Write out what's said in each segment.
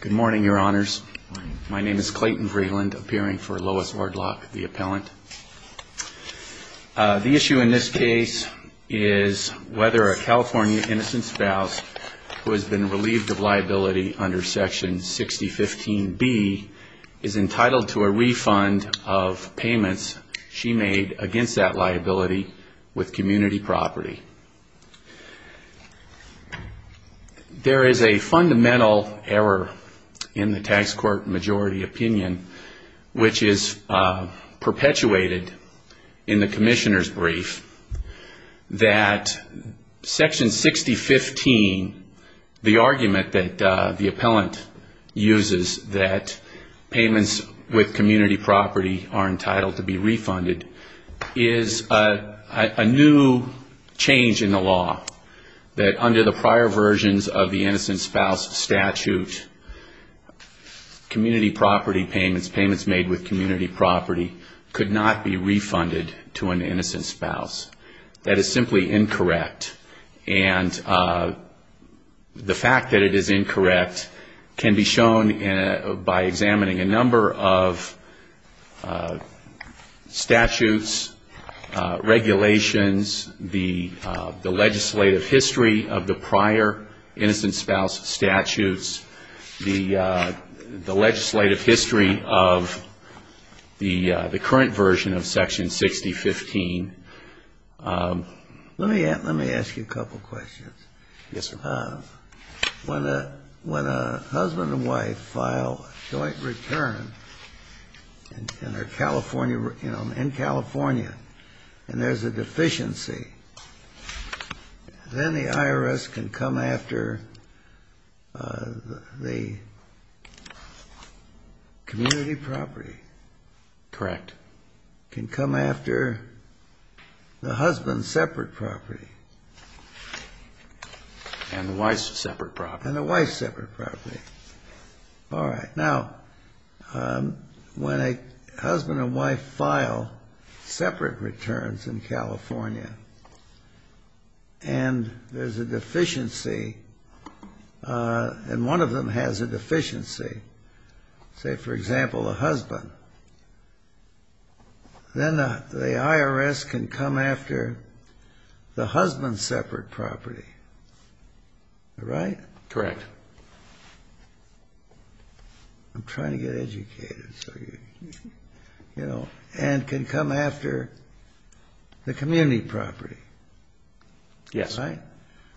Good morning, your honors. My name is Clayton Vreeland, appearing for Lois Orlock, the appellant. The issue in this case is whether a California innocent spouse who has been relieved of liability under Section 6015B is entitled to a refund of payments she made against that liability with community property. There is a fundamental error in the tax court majority opinion which is perpetuated in the commissioner's brief that Section 6015, the argument that the appellant uses that payments with community property are entitled to be refunded, is a new change in the law that under the prior versions of the innocent spouse statute, community property payments, payments made with community property could not be refunded to an innocent spouse. That is simply incorrect. And the fact that it is incorrect can be shown by examining a number of statutes, regulations, the legislative history of the prior innocent spouse statutes, the legislative history of the current version of Section 6015, Let me ask you a couple of questions. Yes, sir. When a husband and wife file a joint return in California and there's a deficiency, then the IRS can come after the community property. Correct. The IRS can come after the husband's separate property. And the wife's separate property. And the wife's separate property. All right. Now, when a husband and wife file separate returns in California and there's a deficiency, and one of them has a deficiency, say, for example, a husband, then the IRS can come after the husband's separate property. All right? Correct. I'm trying to get educated. And can come after the community property. Yes. Right?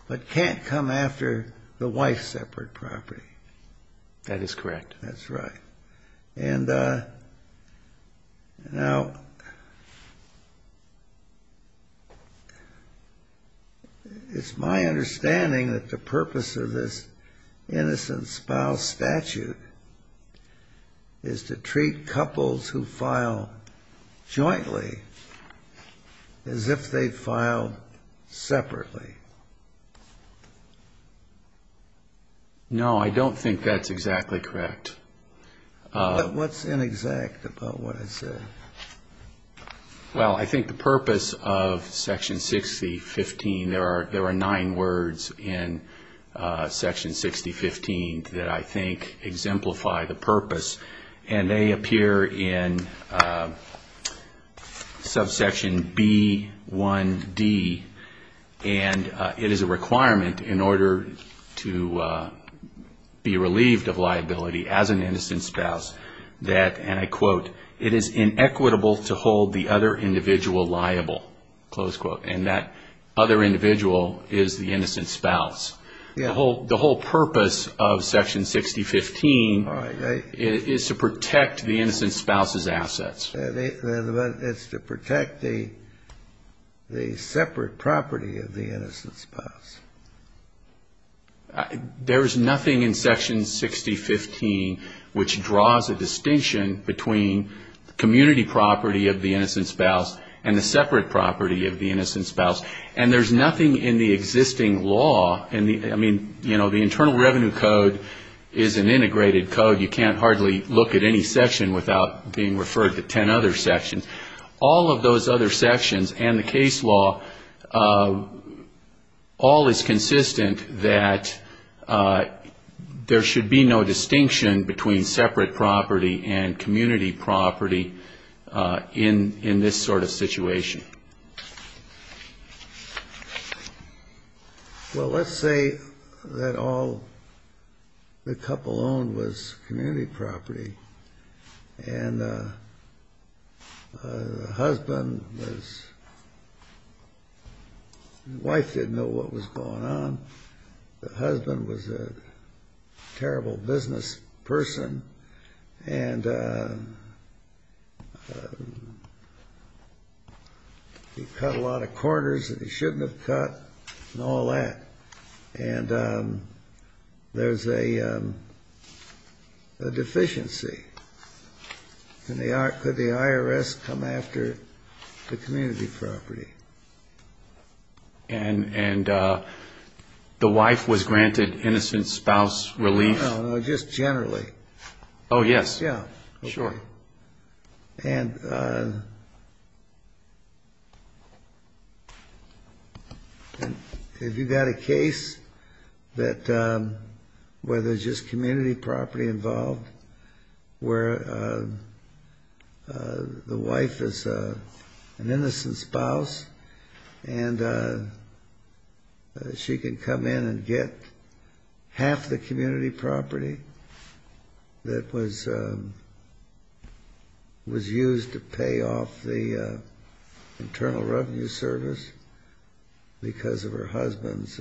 But can't come after the wife's separate property. That is correct. That's right. And now, it's my understanding that the purpose of this innocent spouse statute is to treat couples who file jointly as if they filed separately. No, I don't think that's exactly correct. What's inexact about what I said? Well, I think the purpose of Section 6015, there are nine words in Section 6015 that I think exemplify the purpose. And they appear in subsection B1D. And it is a requirement in order to be relieved of liability as an innocent spouse that, and I quote, it is inequitable to hold the other individual liable, close quote. And that other individual is the innocent spouse. The whole purpose of Section 6015 is to protect the innocent spouse's assets. It's to protect the separate property of the innocent spouse. There is nothing in Section 6015 which draws a distinction between the community property of the innocent spouse and the separate property of the innocent spouse. And there's nothing in the existing law. I mean, you know, the Internal Revenue Code is an integrated code. You can't hardly look at any section without being referred to ten other sections. All of those other sections and the case law, all is consistent that there should be no distinction between separate property and community property in this sort of situation. Well, let's say that all the couple owned was community property. And the husband was, the wife didn't know what was going on. The husband was a terrible business person and he cut a lot of corners that he shouldn't have cut and all that. And there's a deficiency. Could the IRS come after the community property? And the wife was granted innocent spouse relief? No, no, just generally. Oh, yes. Yeah, sure. And if you've got a case that, where there's just community property involved, where the wife is an innocent spouse and she can come in and get half the community property that was used to pay off the Internal Revenue Service because of her husband's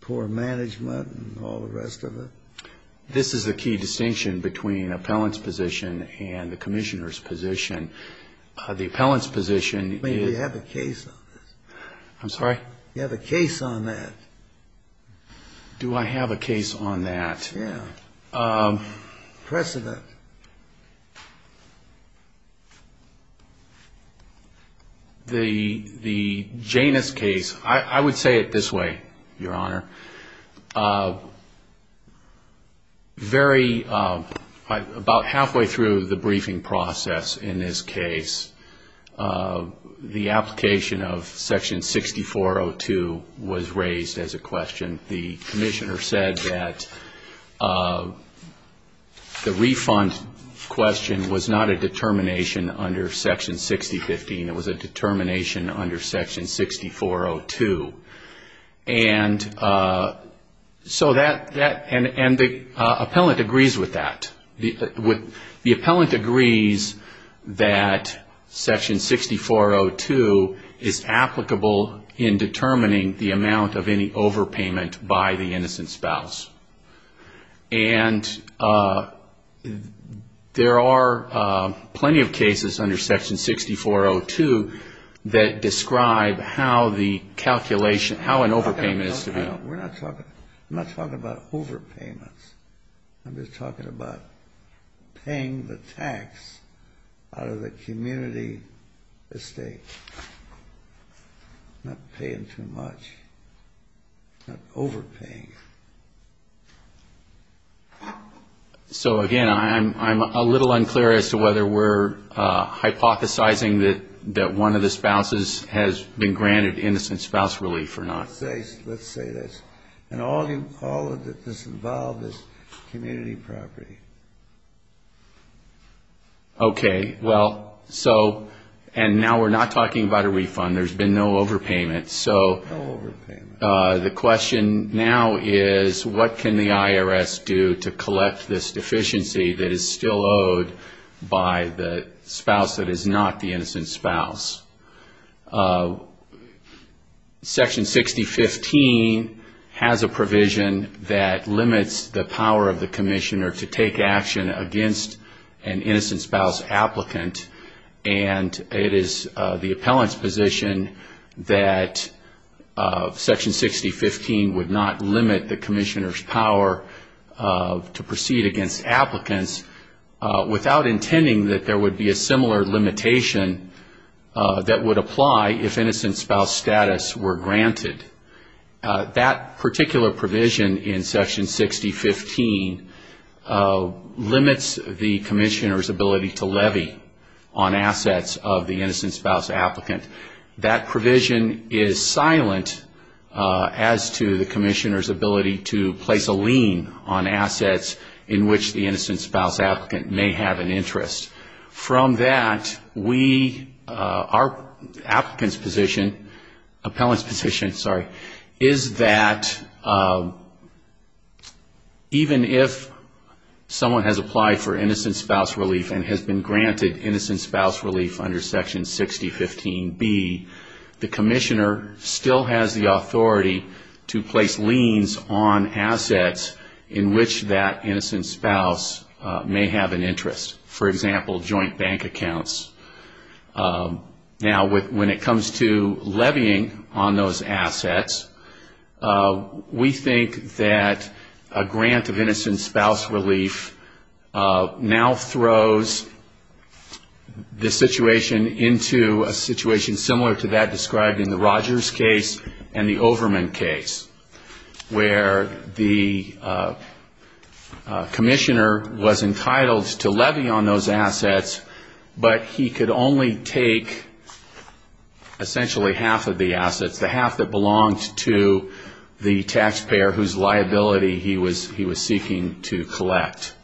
poor management and all the rest of it? This is the key distinction between an appellant's position and the commissioner's position. The appellant's position is... I mean, do you have a case on this? I'm sorry? Do you have a case on that? Do I have a case on that? Yeah. Precedent. The Janus case, I would say it this way, Your Honor. Very, about halfway through the briefing process in this case, the application of Section 6402 was raised as a question. The commissioner said that the refund question was not a determination under Section 6015. It was a determination under Section 6402. And the appellant agrees with that. The appellant agrees that Section 6402 is applicable in determining the amount of any overpayment by the innocent spouse. And there are plenty of cases under Section 6402 that describe how the calculation, how an overpayment is to be... I'm not talking about overpayments. I'm just talking about paying the tax out of the community estate, not paying too much, not overpaying. So, again, I'm a little unclear as to whether we're hypothesizing that one of the spouses has been granted innocent spouse relief or not. Let's say this. Okay. Well, so, and now we're not talking about a refund. There's been no overpayment. So the question now is what can the IRS do to collect this deficiency that is still owed by the spouse that is not the innocent spouse? Section 6015 has a provision that limits the power of the commissioner to take action against an innocent spouse applicant. And it is the appellant's position that Section 6015 would not limit the commissioner's power to proceed against applicants without intending that there would be a similar limitation that would apply if innocent spouse status were granted. That particular provision in Section 6015 limits the commissioner's ability to levy on assets of the innocent spouse applicant. That provision is silent as to the commissioner's ability to place a lien on assets in which the innocent spouse applicant may have an interest. From that, we, our applicant's position, appellant's position, sorry, is that even if someone has applied for innocent spouse relief and has been granted innocent spouse relief under Section 6015B, the commissioner still has the authority to place liens on assets in which that applicant may have an interest, for example, joint bank accounts. Now, when it comes to levying on those assets, we think that a grant of innocent spouse relief now throws the situation into a situation similar to that described in the Rogers case and the Overman case, where the commissioner was entitled to levy on those assets, but he could only take essentially half of the assets, the half that belonged to the taxpayer whose liability he was seeking to collect.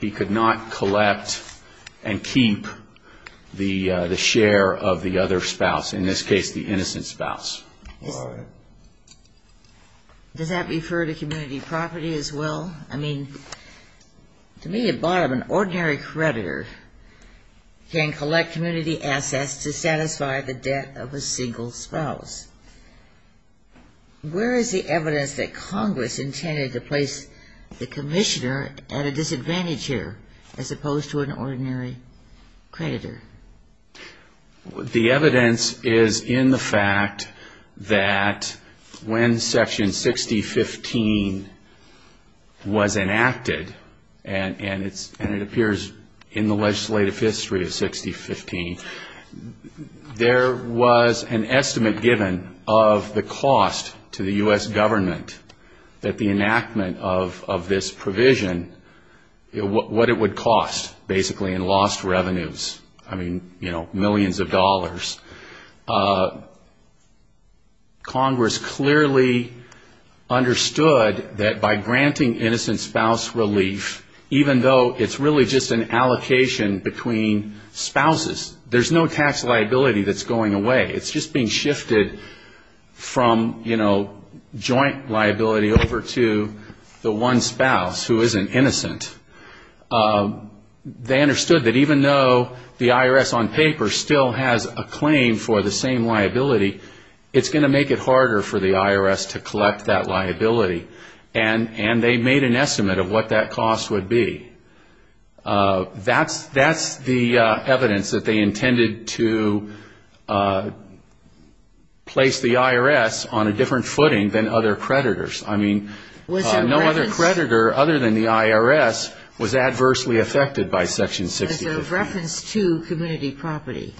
He could not collect and keep the share of the other spouse, in this case, the innocent spouse. Does that refer to community property as well? I mean, to me, it brought up an ordinary creditor. He can collect community assets to satisfy the debt of a single spouse. Where is the evidence that Congress intended to place the commissioner at a disadvantage here, as opposed to an ordinary creditor? The evidence is in the fact that when Section 6015 was enacted, and it appears in the legal documents that Section 6015B was enacted in the legislative history of 6015, there was an estimate given of the cost to the U.S. government that the enactment of this provision, what it would cost, basically, in lost revenues. I mean, you know, millions of dollars. Congress clearly understood that by granting innocent spouse relief, even though it's really just an allocation of the liability, it's not an allocation between spouses. There's no tax liability that's going away. It's just being shifted from, you know, joint liability over to the one spouse who is an innocent. They understood that even though the IRS on paper still has a claim for the same liability, it's going to make it harder for the IRS to collect that liability. And they made an estimate of what that cost would be. That's the evidence that they intended to place the IRS on a different footing than other creditors. I mean, no other creditor other than the IRS was adversely affected by Section 6015. Was there reference to community property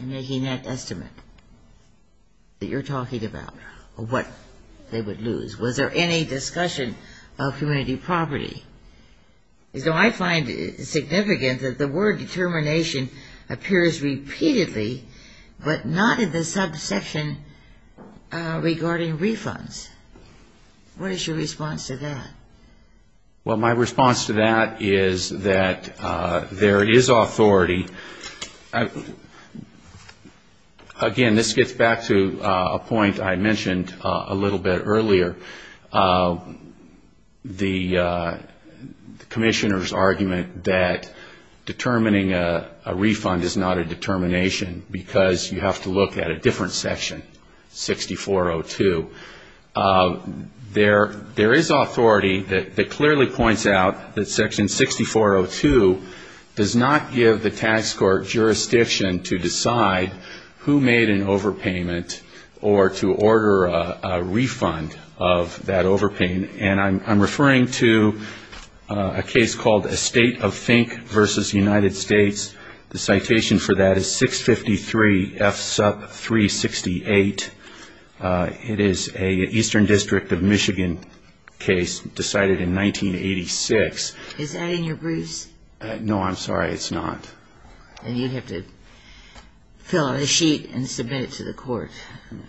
in making that estimate that you're talking about, of what they would lose? Was there any discussion of community property? So I find it significant that the word determination appears repeatedly, but not in the subsection regarding refunds. What is your response to that? Well, my response to that is that there is authority. Again, this gets back to a point I mentioned a little bit earlier. The commissioner's argument that determining a refund is not a determination because you have to look at a different section, 6402. There is authority that clearly points out that Section 6402 does not give the tax court jurisdiction to decide who made an overpayment. And I'm referring to a case called Estate of Fink v. United States. The citation for that is 653 F. Sup. 368. It is an Eastern District of Michigan case decided in 1986. Is that in your briefs? No, I'm sorry. It's not. Then you'd have to fill out a sheet and submit it to the court.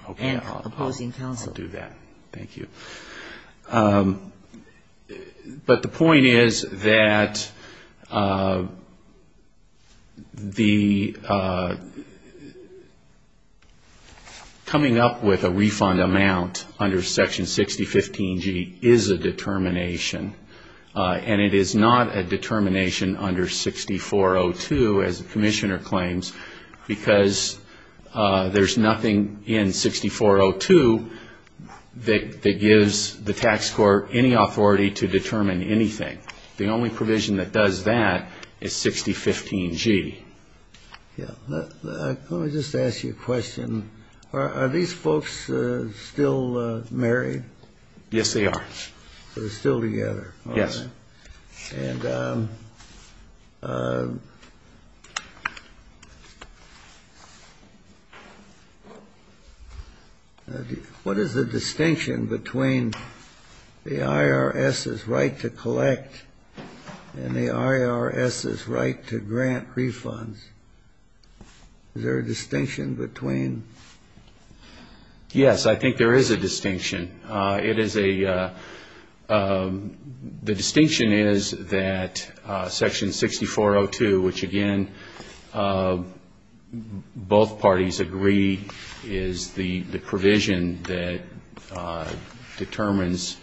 Okay. I'll do that. Thank you. But the point is that the coming up with a refund amount under Section 6015G is a determination, and it is not a determination under 6402. As the commissioner claims, because there's nothing in 6402 that gives the tax court any authority to determine anything. The only provision that does that is 6015G. Let me just ask you a question. Are these folks still married? Yes, they are. They're still together? Yes. And what is the distinction between the IRS's right to collect and the IRS's right to grant refunds? Is there a distinction between them? Yes, I think there is a distinction. It is a the distinction is that Section 6402, which again, both parties agree, is the provision that determines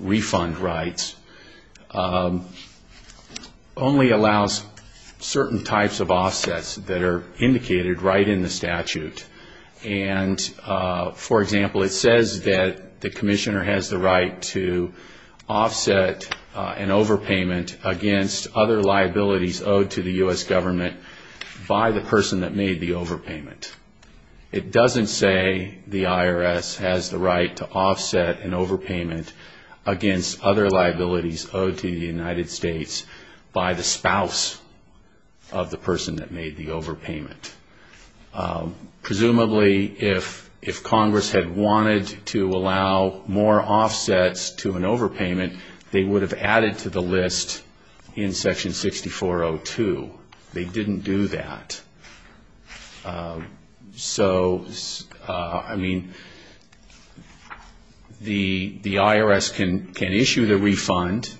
refund rights, only allows certain types of offsets that are indicated right in the statute. And, for example, it says that the commissioner has the right to offset an overpayment against other liabilities owed to the U.S. government by the person that made the overpayment. It doesn't say the IRS has the right to offset an overpayment against other liabilities owed to the United States by the spouse of the person that made the overpayment. Presumably, if Congress had wanted to allow more offsets to an overpayment, they would have added to the list in Section 6402. They didn't do that. So, I mean, the IRS can issue the refund,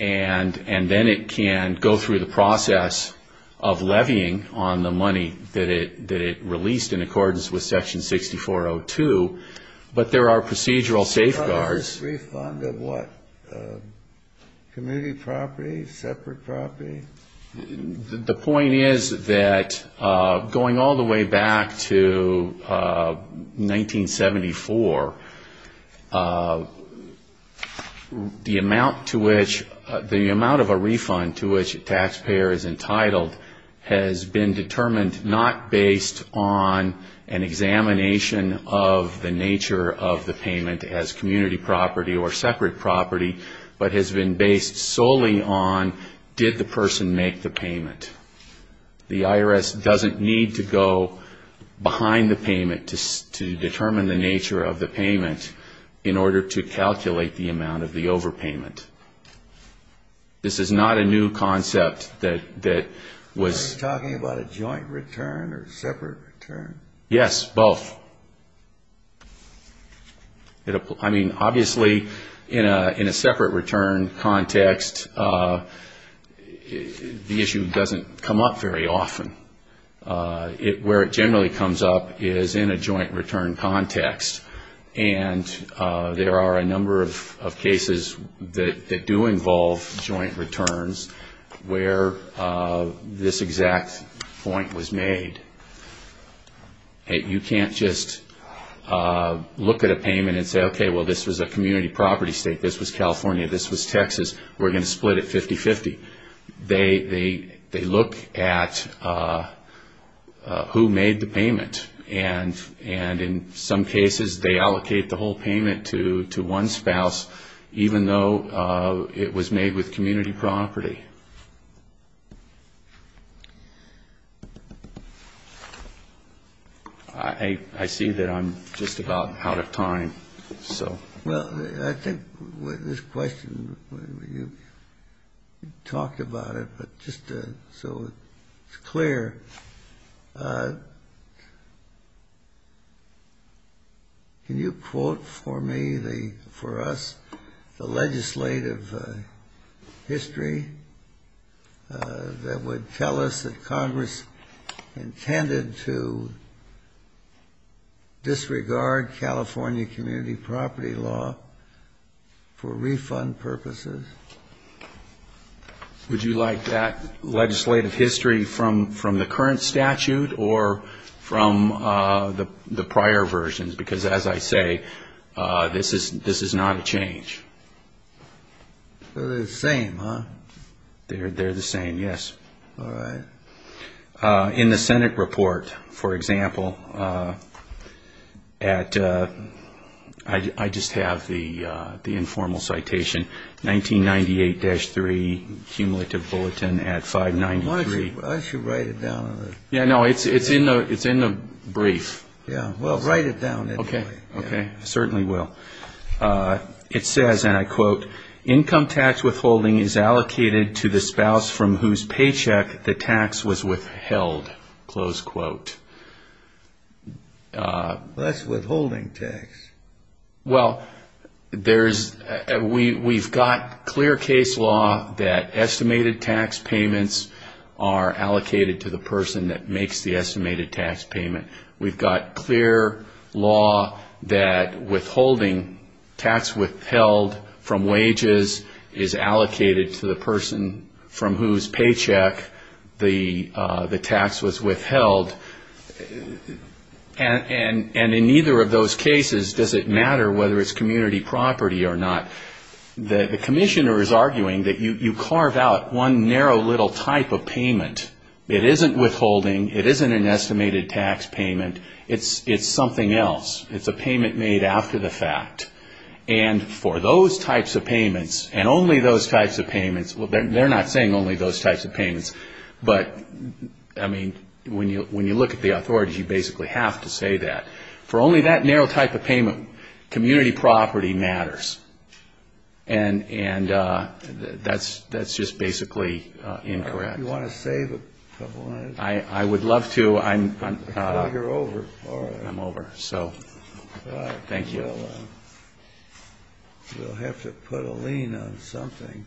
and then it can go through the process of levying on the money that it releases. But there are procedural safeguards. The point is that going all the way back to 1974, the amount to which the amount of a refund to which a taxpayer is entitled has been determined not based on an examination of the nature of the payment as community property or separate property, but has been based solely on did the person make the payment. The IRS doesn't need to go behind the payment to determine the nature of the payment in order to calculate the amount of the overpayment. This is not a new concept that was... Are you talking about a joint return or separate return? Yes, both. I mean, obviously, in a separate return context, the issue doesn't come up very often. Where it generally comes up is in a joint return context. And there are a number of cases that do involve joint returns where this exact point was made. You can't just look at a payment and say, okay, well, this was a community property state. This was California. This was Texas. We're going to split it 50-50. They look at who made the payment. And in some cases, they allocate the whole payment to one spouse, even though it was made with community property. I see that I'm just about out of time. Well, I think this question, you talked about it, but just so it's clear. Can you quote for me, for us, the legislative history that would tell us that Congress intended to disregard California community property? Law for refund purposes? Would you like that legislative history from the current statute or from the prior versions? Because, as I say, this is not a change. They're the same, huh? They're the same, yes. I just have the informal citation, 1998-3, cumulative bulletin at 593. Why don't you write it down? Yeah, no, it's in the brief. Yeah, well, write it down anyway. Okay, certainly will. It says, and I quote, That's withholding tax. Well, we've got clear case law that estimated tax payments are allocated to the person that makes the estimated tax payment. We've got clear law that withholding tax withheld from wages is allocated to the person from whose paycheck the tax was withheld. And in neither of those cases does it matter whether it's community property or not. The commissioner is arguing that you carve out one narrow little type of payment. It isn't withholding, it isn't an estimated tax payment, it's something else. It's a payment made after the fact. And for those types of payments, and only those types of payments, well, they're not saying only those types of payments, but, I mean, when you look at the authority, you basically have to say that. For only that narrow type of payment, community property matters. And that's just basically incorrect. Do you want to save a couple minutes? I would love to. You're over. I'm over, so thank you. We'll have to put a lien on something.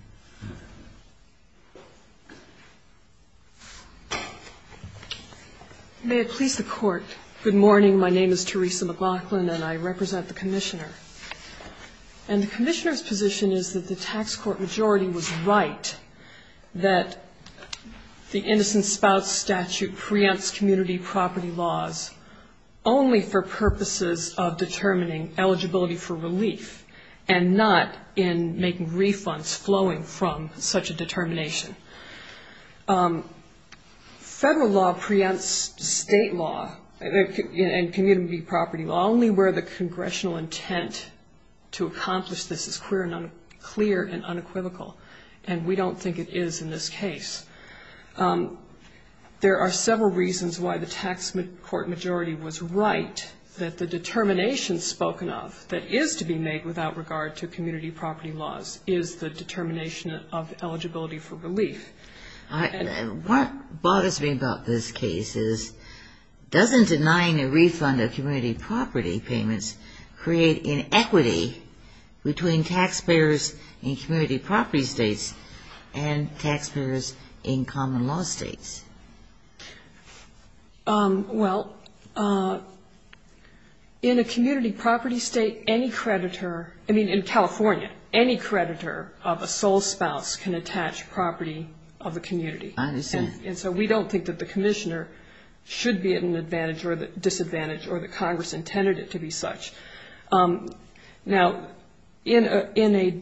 May it please the Court, good morning. My name is Teresa McLaughlin, and I represent the commissioner. And the commissioner's position is that the tax court majority was right that the innocent spouse statute preempts community property laws only for purposes of determining eligibility for relief, and not in making refunds from such a determination. Federal law preempts state law and community property law only where the congressional intent to accomplish this is clear and unequivocal, and we don't think it is in this case. There are several reasons why the tax court majority was right that the determination spoken of that is to be made without regard to community property laws, is the determination of eligibility for relief. And what bothers me about this case is doesn't denying a refund of community property payments create inequity between taxpayers in community property states and taxpayers in common law states? Well, in a community property state, any creditor, I mean, in taxpayers in common law states, in California, any creditor of a sole spouse can attach property of the community. And so we don't think that the commissioner should be at an advantage or disadvantage or that Congress intended it to be such. Now, in a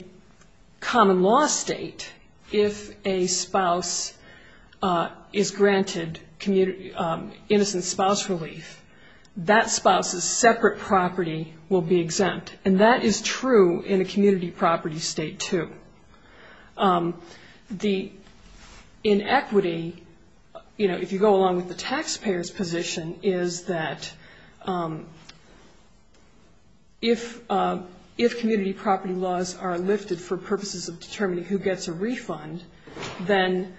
common law state, if a spouse is granted innocent spouse relief, that spouse's separate property will be exempt. And that is true in a community property state, too. The inequity, you know, if you go along with the taxpayer's position, is that if community property laws are lifted for purposes of determining who gets a refund, then,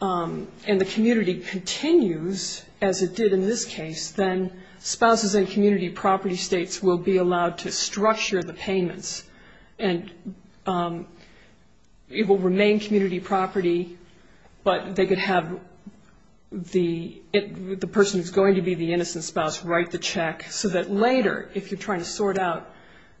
and the community continues as it did in this case, then spouses in community property states will be allowed to structure the payments. And it will remain community property, but they could have the person who's going to be the innocent spouse write the check, so that later, if you're trying to sort out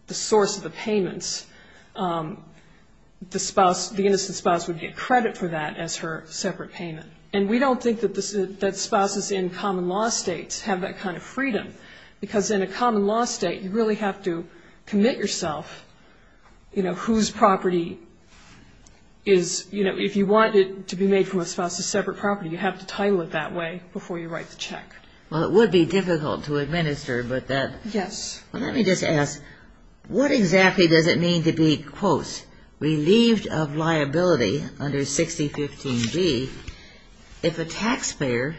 the source of the payments, the spouse, the innocent spouse would get credit for that as her separate payment. And we don't think that spouses in common law states have that kind of freedom, because in a common law state, you really have to commit yourself, you know, whose property is, you know, if you want it to be made from a spouse's separate property, you have to title it that way before you write the check. Well, it would be difficult to administer, but that. Yes. Well, let me just ask, what exactly does it mean to be, quote, relieved of liability under 6015B if a taxpayer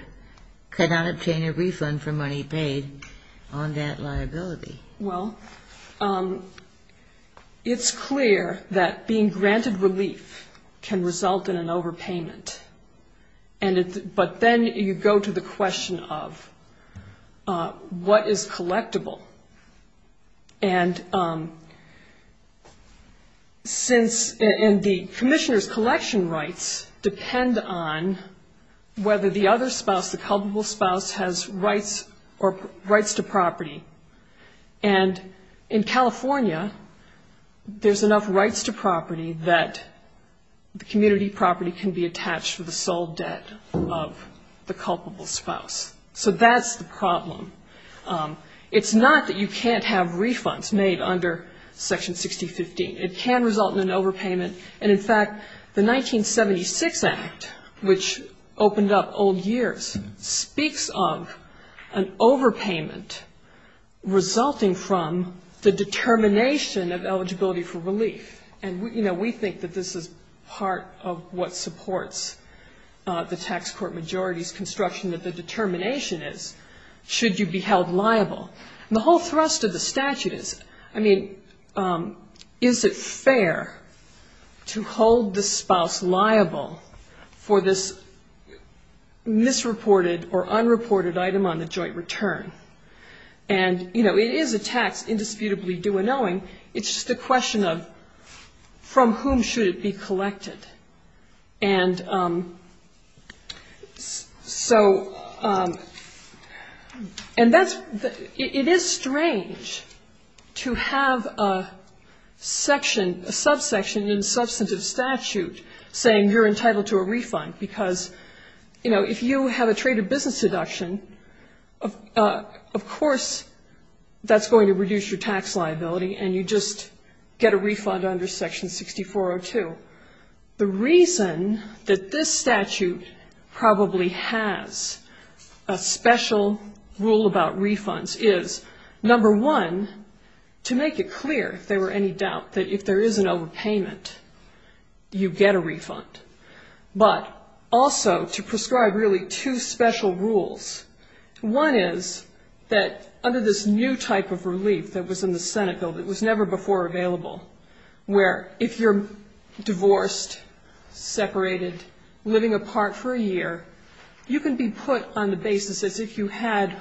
could not obtain a refund for money paid on that liability? Well, it's clear that being granted relief can result in an overpayment, but then you go to the question of what is collectible, and since, and the commissioner's collection rights depend on whether the other spouse, the culpable spouse has rights or rights to property, and in California, there's enough rights to property that the community property can be attached to the sole debt of the culpable spouse. It's not that you can't have refunds made under Section 6015. It can result in an overpayment, and in fact, the 1976 Act, which opened up old years, speaks of an overpayment resulting from the determination of eligibility for relief, and, you know, we think that this is part of what supports the tax court majority's construction that the determination is, should you be held liable. And the whole thrust of the statute is, I mean, is it fair to hold the spouse liable for this misreported or unreported item on the joint return? And, you know, it is a tax indisputably due and owing. It's just a question of from whom should it be collected. And so, and that's, it is strange to have a section, a subsection in substantive statute saying you're entitled to a refund, because, you know, if you have a trade or business deduction, of course, that's going to reduce your tax liability, and you just get a refund under Section 6402. The reason that this statute probably has a special rule about refunds is, number one, to make it clear, if there were any doubt, that if there is an overpayment, you get a refund. But also to prescribe really two special rules. One is that under this new type of relief that was in the Senate bill that was never before available, where if you're divorced, separated, living apart for a year, you can be put on the basis as if you had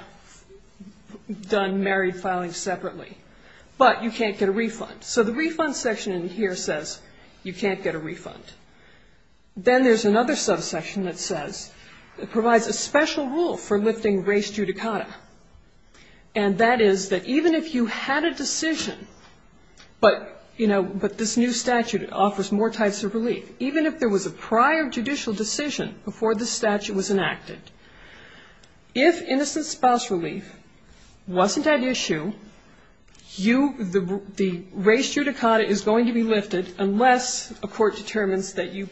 done married filing separately, but you can't get a refund. So the refund section in here says you can't get a refund. Then there's another subsection that says, provides a special rule for lifting race judicata, and that is that even if you had a decision, but, you know, but this new statute offers more types of relief, even if there was a prior judicial decision before this statute was enacted, if innocent spouse relief wasn't at issue, you, the race judicata was not at issue. The race judicata is going to be lifted unless a court determines that you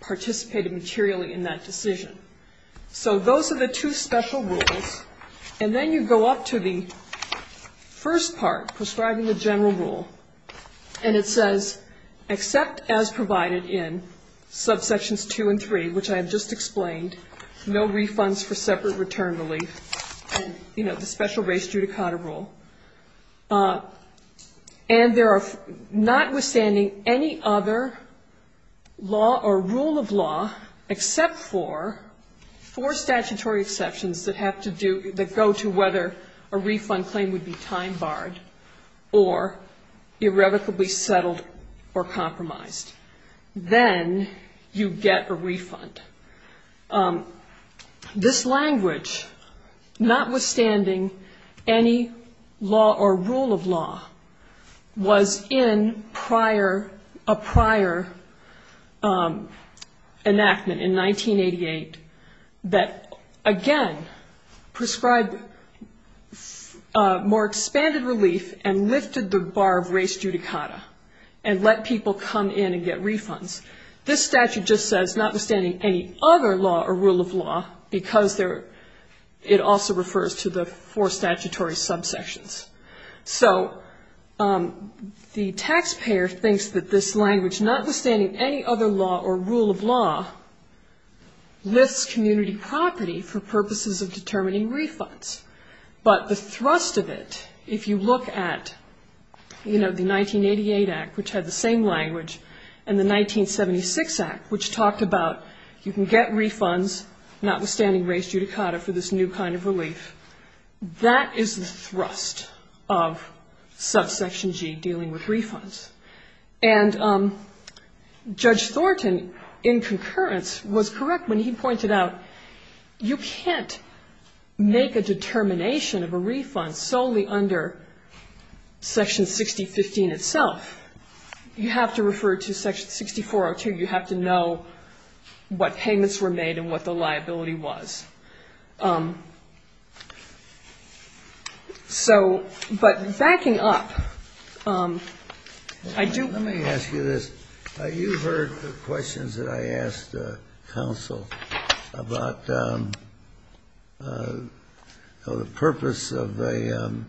participated materially in that decision. So those are the two special rules, and then you go up to the first part, prescribing the general rule, and it says, except as provided in subsections two and three, which I have just explained, no refunds for separate return relief, you know, with a special race judicata rule, and there are, notwithstanding any other law or rule of law except for four statutory exceptions that have to do, that go to whether a refund claim would be time barred or irrevocably settled or compromised, then you get a refund. This language, notwithstanding any law or rule of law, was in prior, a prior enactment in 1988 that, again, prescribed more expanded relief and lifted the bar of race judicata and let people come in and get refunds. This statute just says, notwithstanding any other law or rule of law, because there, it also refers to the four statutory subsections. So the taxpayer thinks that this language, notwithstanding any other law or rule of law, lifts community property for purposes of determining refunds, but the thrust of it, if you look at, you know, the 1988 Act, which had the same language, and the 1976 Act, which talked about you can get refunds, notwithstanding race judicata, for this new kind of relief. That is the thrust of subsection G, dealing with refunds. And Judge Thornton, in concurrence, was correct when he pointed out you can't make a determination of a refund solely under section 6015 itself. You have to refer to section 6402. You have to know what payments were made and what the liability was. So, but backing up, I do ---- Let me ask you this. You heard the questions that I asked counsel about the purpose of an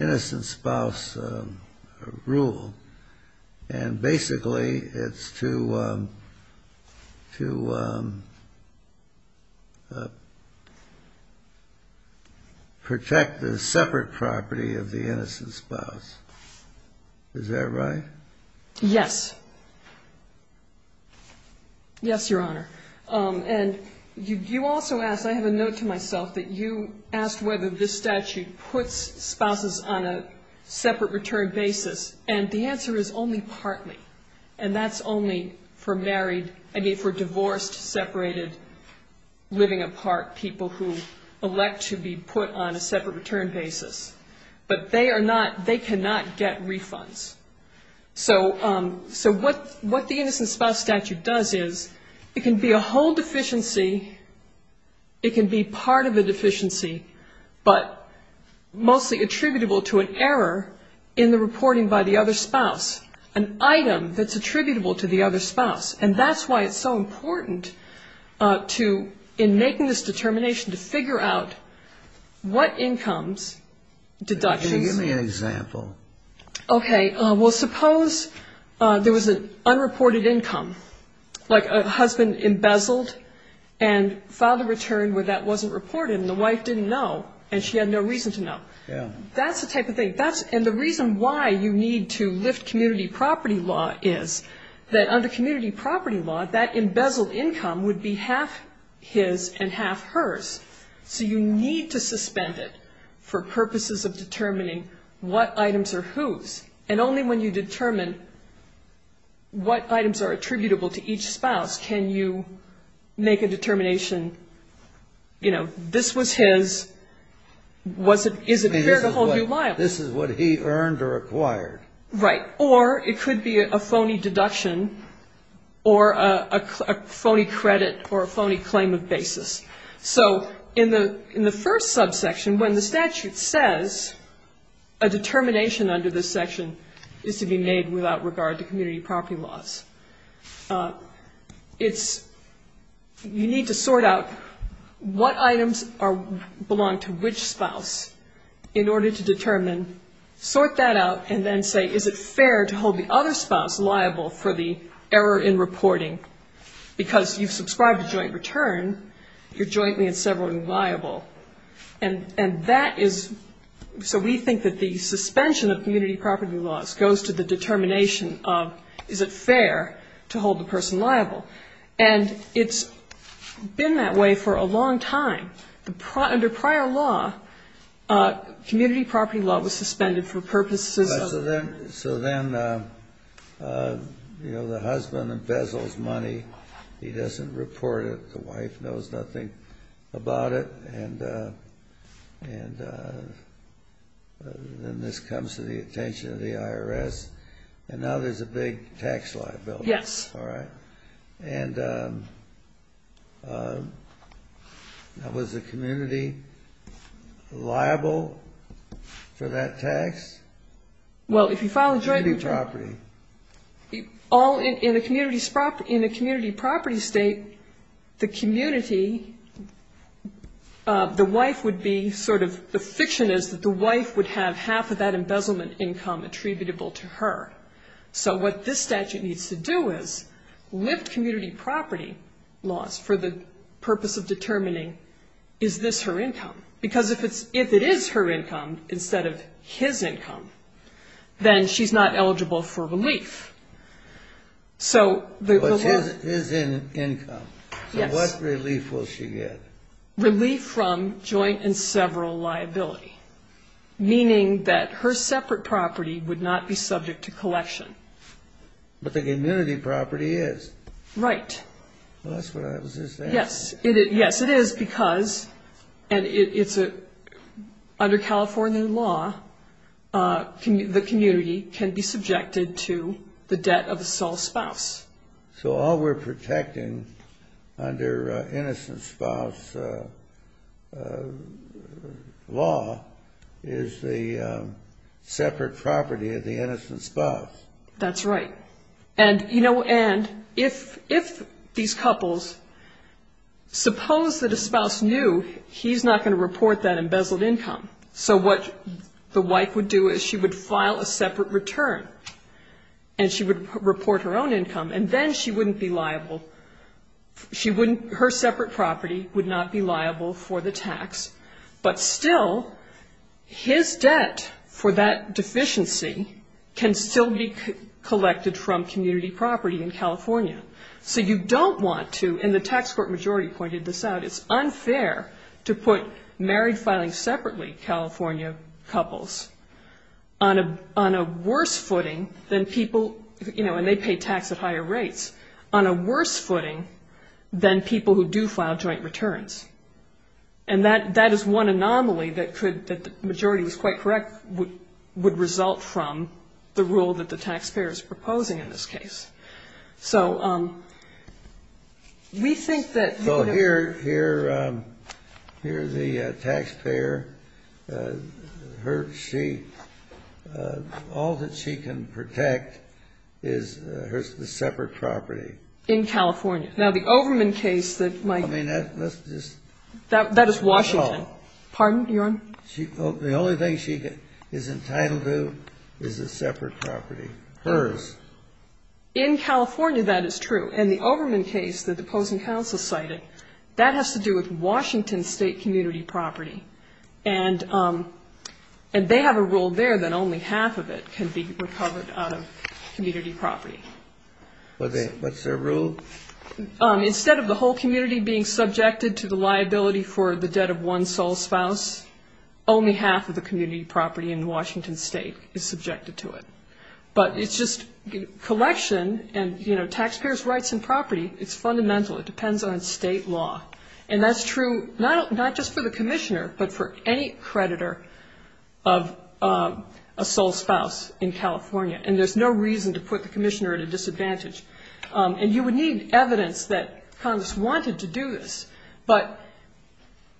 innocent spouse rule. And basically, it's to protect the separate property of the innocent spouse. Is that right? Yes. Yes, Your Honor. And you also asked, I have a note to myself, that you asked whether this statute puts spouses on a separate return basis, and the answer is only partly. And that's only for married, I mean, for divorced, separated, living apart people who elect to be put on a separate return basis. But they are not, they cannot get refunds. So what the innocent spouse statute does is, it can be a whole deficiency, it can be part of a deficiency, but mostly attributable to an error, in the reporting by the other spouse, an item that's attributable to the other spouse. And that's why it's so important to, in making this determination, to figure out what incomes deductions. Give me an example. Okay. Well, suppose there was an unreported income, like a husband embezzled and filed a return where that wasn't reported and the wife didn't know and she had no reason to know. That's the type of thing, and the reason why you need to lift community property law is, that under community property law, that embezzled income would be half his and half hers. So you need to suspend it for purposes of determining what items are whose. And only when you determine what items are attributable to each spouse can you make a determination, you know, this was his, is it his, is it not his, is it not his. I mean, this is what he earned or acquired. Right. Or it could be a phony deduction or a phony credit or a phony claim of basis. So in the first subsection, when the statute says a determination under this section is to be made without regard to community property laws, it's, you need to sort out what items belong to which spouse, and what items belong to which spouse. In order to determine, sort that out and then say, is it fair to hold the other spouse liable for the error in reporting? Because you've subscribed a joint return, you're jointly and severally liable. And that is, so we think that the suspension of community property laws goes to the determination of, is it fair to hold the person liable. And it's been that way for a long time. Under prior law, community property law was suspended for purposes of... So then, so then, you know, the husband embezzles money. He doesn't report it. The wife knows nothing about it. And then this comes to the attention of the IRS. And now there's a big tax liability. Yes. And was the community liable for that tax? Well, if you file a joint return... In a community property state, the community, the wife would be sort of, the fiction is that the wife would have half of that embezzlement income attributable to her. So what this statute needs to do is lift community property laws for the purpose of determining, is this her income? Because if it's, if it is her income instead of his income, then she's not eligible for relief. So the law... But it is his income. So what relief will she get? Relief from joint and several liability, meaning that her separate property would not be subject to collection. But the community property is. Right. Well, that's what I was just asking. Yes. Yes, it is, because, and it's under California law, the community can be subjected to the debt of a sole spouse. So all we're protecting under innocent spouse law is the separate property of the innocent spouse. That's right. Suppose that a spouse knew he's not going to report that embezzled income. So what the wife would do is she would file a separate return and she would report her own income, and then she wouldn't be liable. She wouldn't, her separate property would not be liable for the tax, but still his debt for that deficiency can still be collected from community property in California. So you don't want to, and the tax court majority pointed this out, it's unfair to put married filing separately California couples on a worse footing than people, you know, and they pay tax at higher rates, on a worse footing than people who do file joint returns. And that is one anomaly that could, that the majority was quite correct, would result from the rule that the taxpayer is proposing in this case. So we think that... So here the taxpayer, her, she, all that she can protect is the separate property. In California. Now the Overman case that might... I mean, let's just... The only thing she is entitled to is a separate property, hers. In California that is true, and the Overman case that the opposing counsel cited, that has to do with Washington State community property. And they have a rule there that only half of it can be recovered out of community property. What's their rule? Instead of the whole community being subjected to the liability for the debt of one sole spouse, only half of the community property in Washington State is subjected to it. But it's just collection and, you know, taxpayer's rights and property, it's fundamental, it depends on state law. And that's true, not just for the commissioner, but for any creditor of a sole spouse in California. And there's no reason to put the commissioner at a disadvantage. And you would need evidence that Congress wanted to do this, but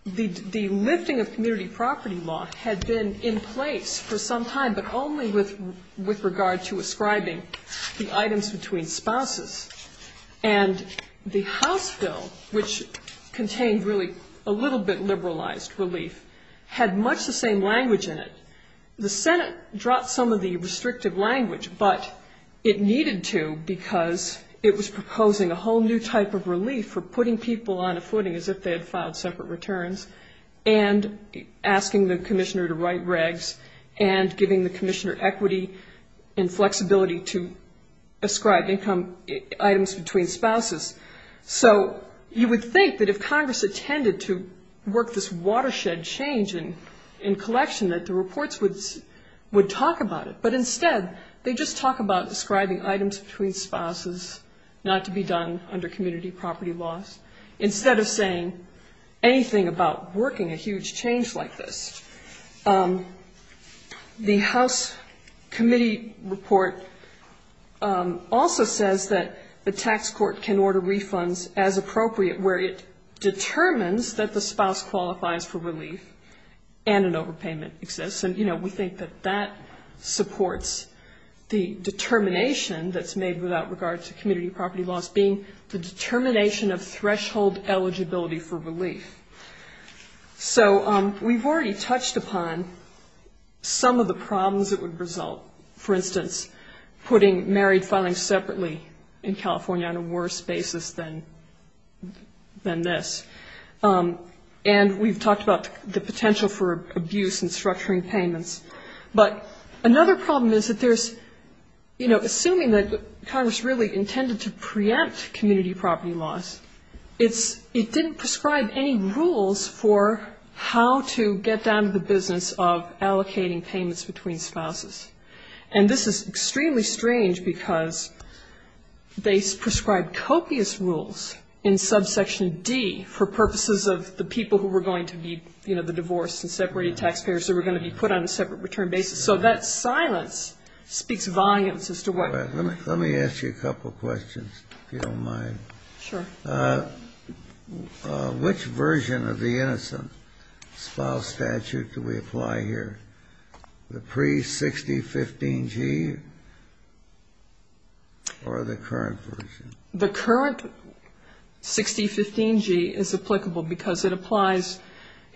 the lifting of community property law had been in place for some time, but only with regard to ascribing the items between spouses. And the House bill, which contained really a little bit liberalized relief, had much the same language in it. The Senate dropped some of the restrictive language, but it needed to because it was proposing a whole new type of relief for putting people on a footing as if they had filed separate returns, and asking the commissioner to write regs, and giving the commissioner equity and flexibility to ascribe income items between spouses. So you would think that if Congress intended to work this watershed change in collection, that the reporting committee would be able to do it. And Congress would talk about it, but instead they just talk about ascribing items between spouses not to be done under community property laws, instead of saying anything about working a huge change like this. The House committee report also says that the tax court can order refunds as appropriate, where it determines that the spouse qualifies for relief, and an overpayment exists. And I know we think that that supports the determination that's made without regard to community property laws, being the determination of threshold eligibility for relief. So we've already touched upon some of the problems that would result, for instance, putting married filings separately in California on a worse basis than this. And we've talked about the potential for abuse in structuring payments. But another problem is that there's, you know, assuming that Congress really intended to preempt community property laws, it didn't prescribe any rules for how to get down to the business of allocating payments between spouses. And this is extremely strange, because they prescribe copious rules in subsection D for allocating payments between spouses. And for purposes of the people who were going to be, you know, the divorced and separated taxpayers who were going to be put on a separate return basis. So that silence speaks volumes as to what we're talking about. Let me ask you a couple questions, if you don't mind. Sure. Which version of the innocent spouse statute do we apply here, the pre-6015G or the current version? The current 6015G is applicable because it applies,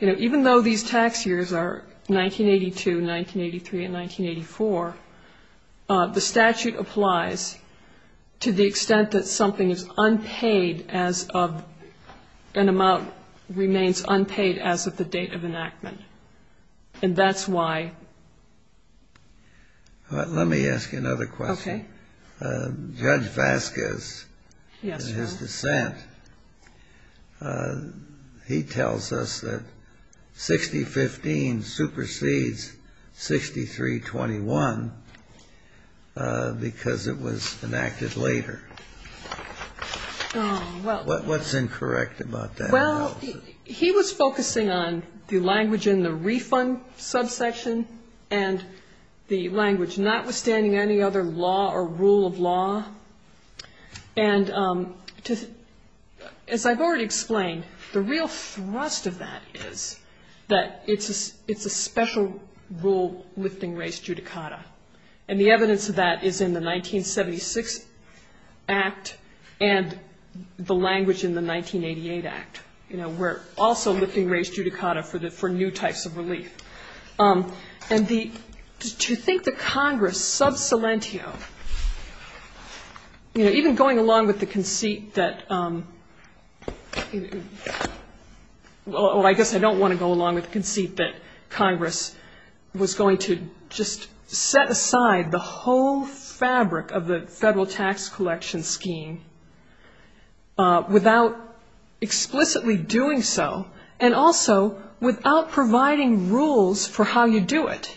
you know, even though these tax years are 1982, 1983 and 1984, the statute applies to the extent that something is unpaid as of an amount remains unpaid as of the date of enactment. And that's why. All right. Let me ask you another question. Okay. Judge Vasquez, in his dissent, he tells us that 6015 supersedes 6321 because it was enacted later. What's incorrect about that analysis? He was focusing on the language in the refund subsection and the language notwithstanding any other law or rule of law. And as I've already explained, the real thrust of that is that it's a special rule lifting race judicata. And the evidence of that is in the 1976 Act and the language in the 1988 Act. You know, we're also lifting race judicata for new types of relief. And to think that Congress sub silentio, you know, even going along with the conceit that, well, I guess I don't want to go along with the conceit that Congress was going to just set aside the whole fabric of the federal tax collection scheme without explicitly doing so, and also without providing rules for how you do it.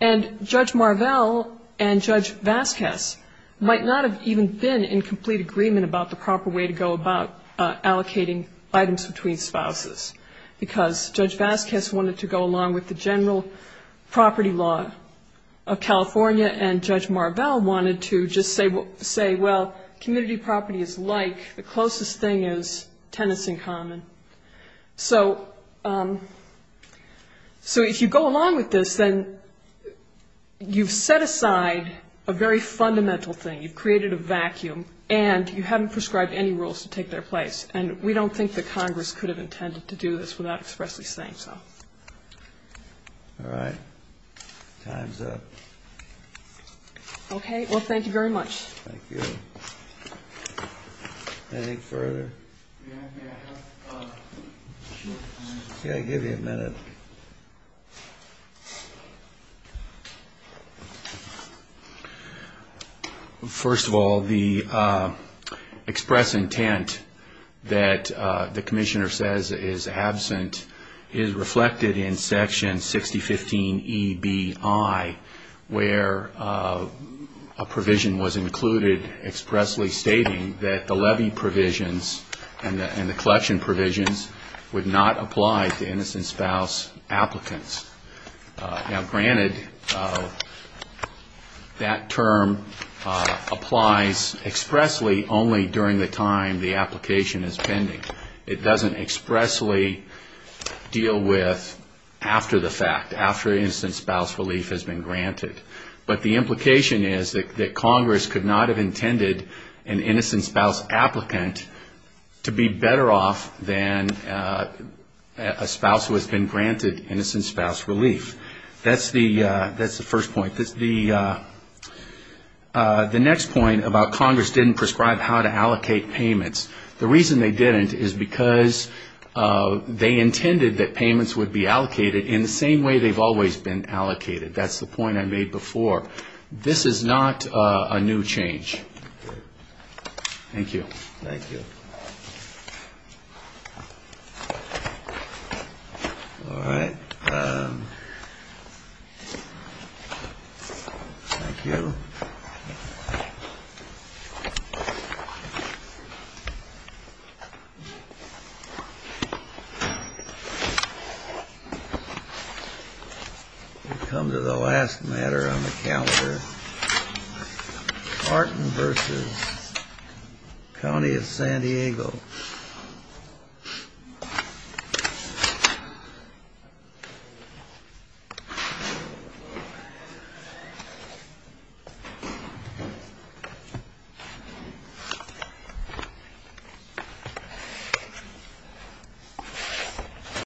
And Judge Marvell and Judge Vasquez might not have even been in complete agreement about the proper way to go about allocating items between spouses, because Judge Vasquez wanted to go along with the general property law of California and Judge Marvell wanted to just say, well, community property is like, the closest thing is tenants in common. So if you go along with this, then you've set aside a very fundamental thing. You've created a vacuum, and you haven't prescribed any rules to take their place. And we don't think that Congress could have intended to do this without expressly saying so. All right. Time's up. Okay. Well, thank you very much. Okay. I'll give you a minute. First of all, the express intent that the Commissioner says is absent is reflected in Section 6015EBI, where a provision was included expressly stating that the levy provisions and the collection provisions would not apply to innocent spouse applicants. Now, granted, that term applies expressly only during the time the application is pending. It doesn't expressly deal with after the fact, after innocent spouse relief has been granted. But the implication is that Congress could not have intended an innocent spouse applicant to be better off than a spouse who has been granted innocent spouse relief. That's the first point. The next point about Congress didn't prescribe how to allocate payments, the reason they didn't is because they intended that payments would be allocated in the same way they've always been allocated. That's the point I made before. This is not a new change. Thank you. Thank you. We come to the last matter on the calendar, Martin v. County of San Diego. Thank you.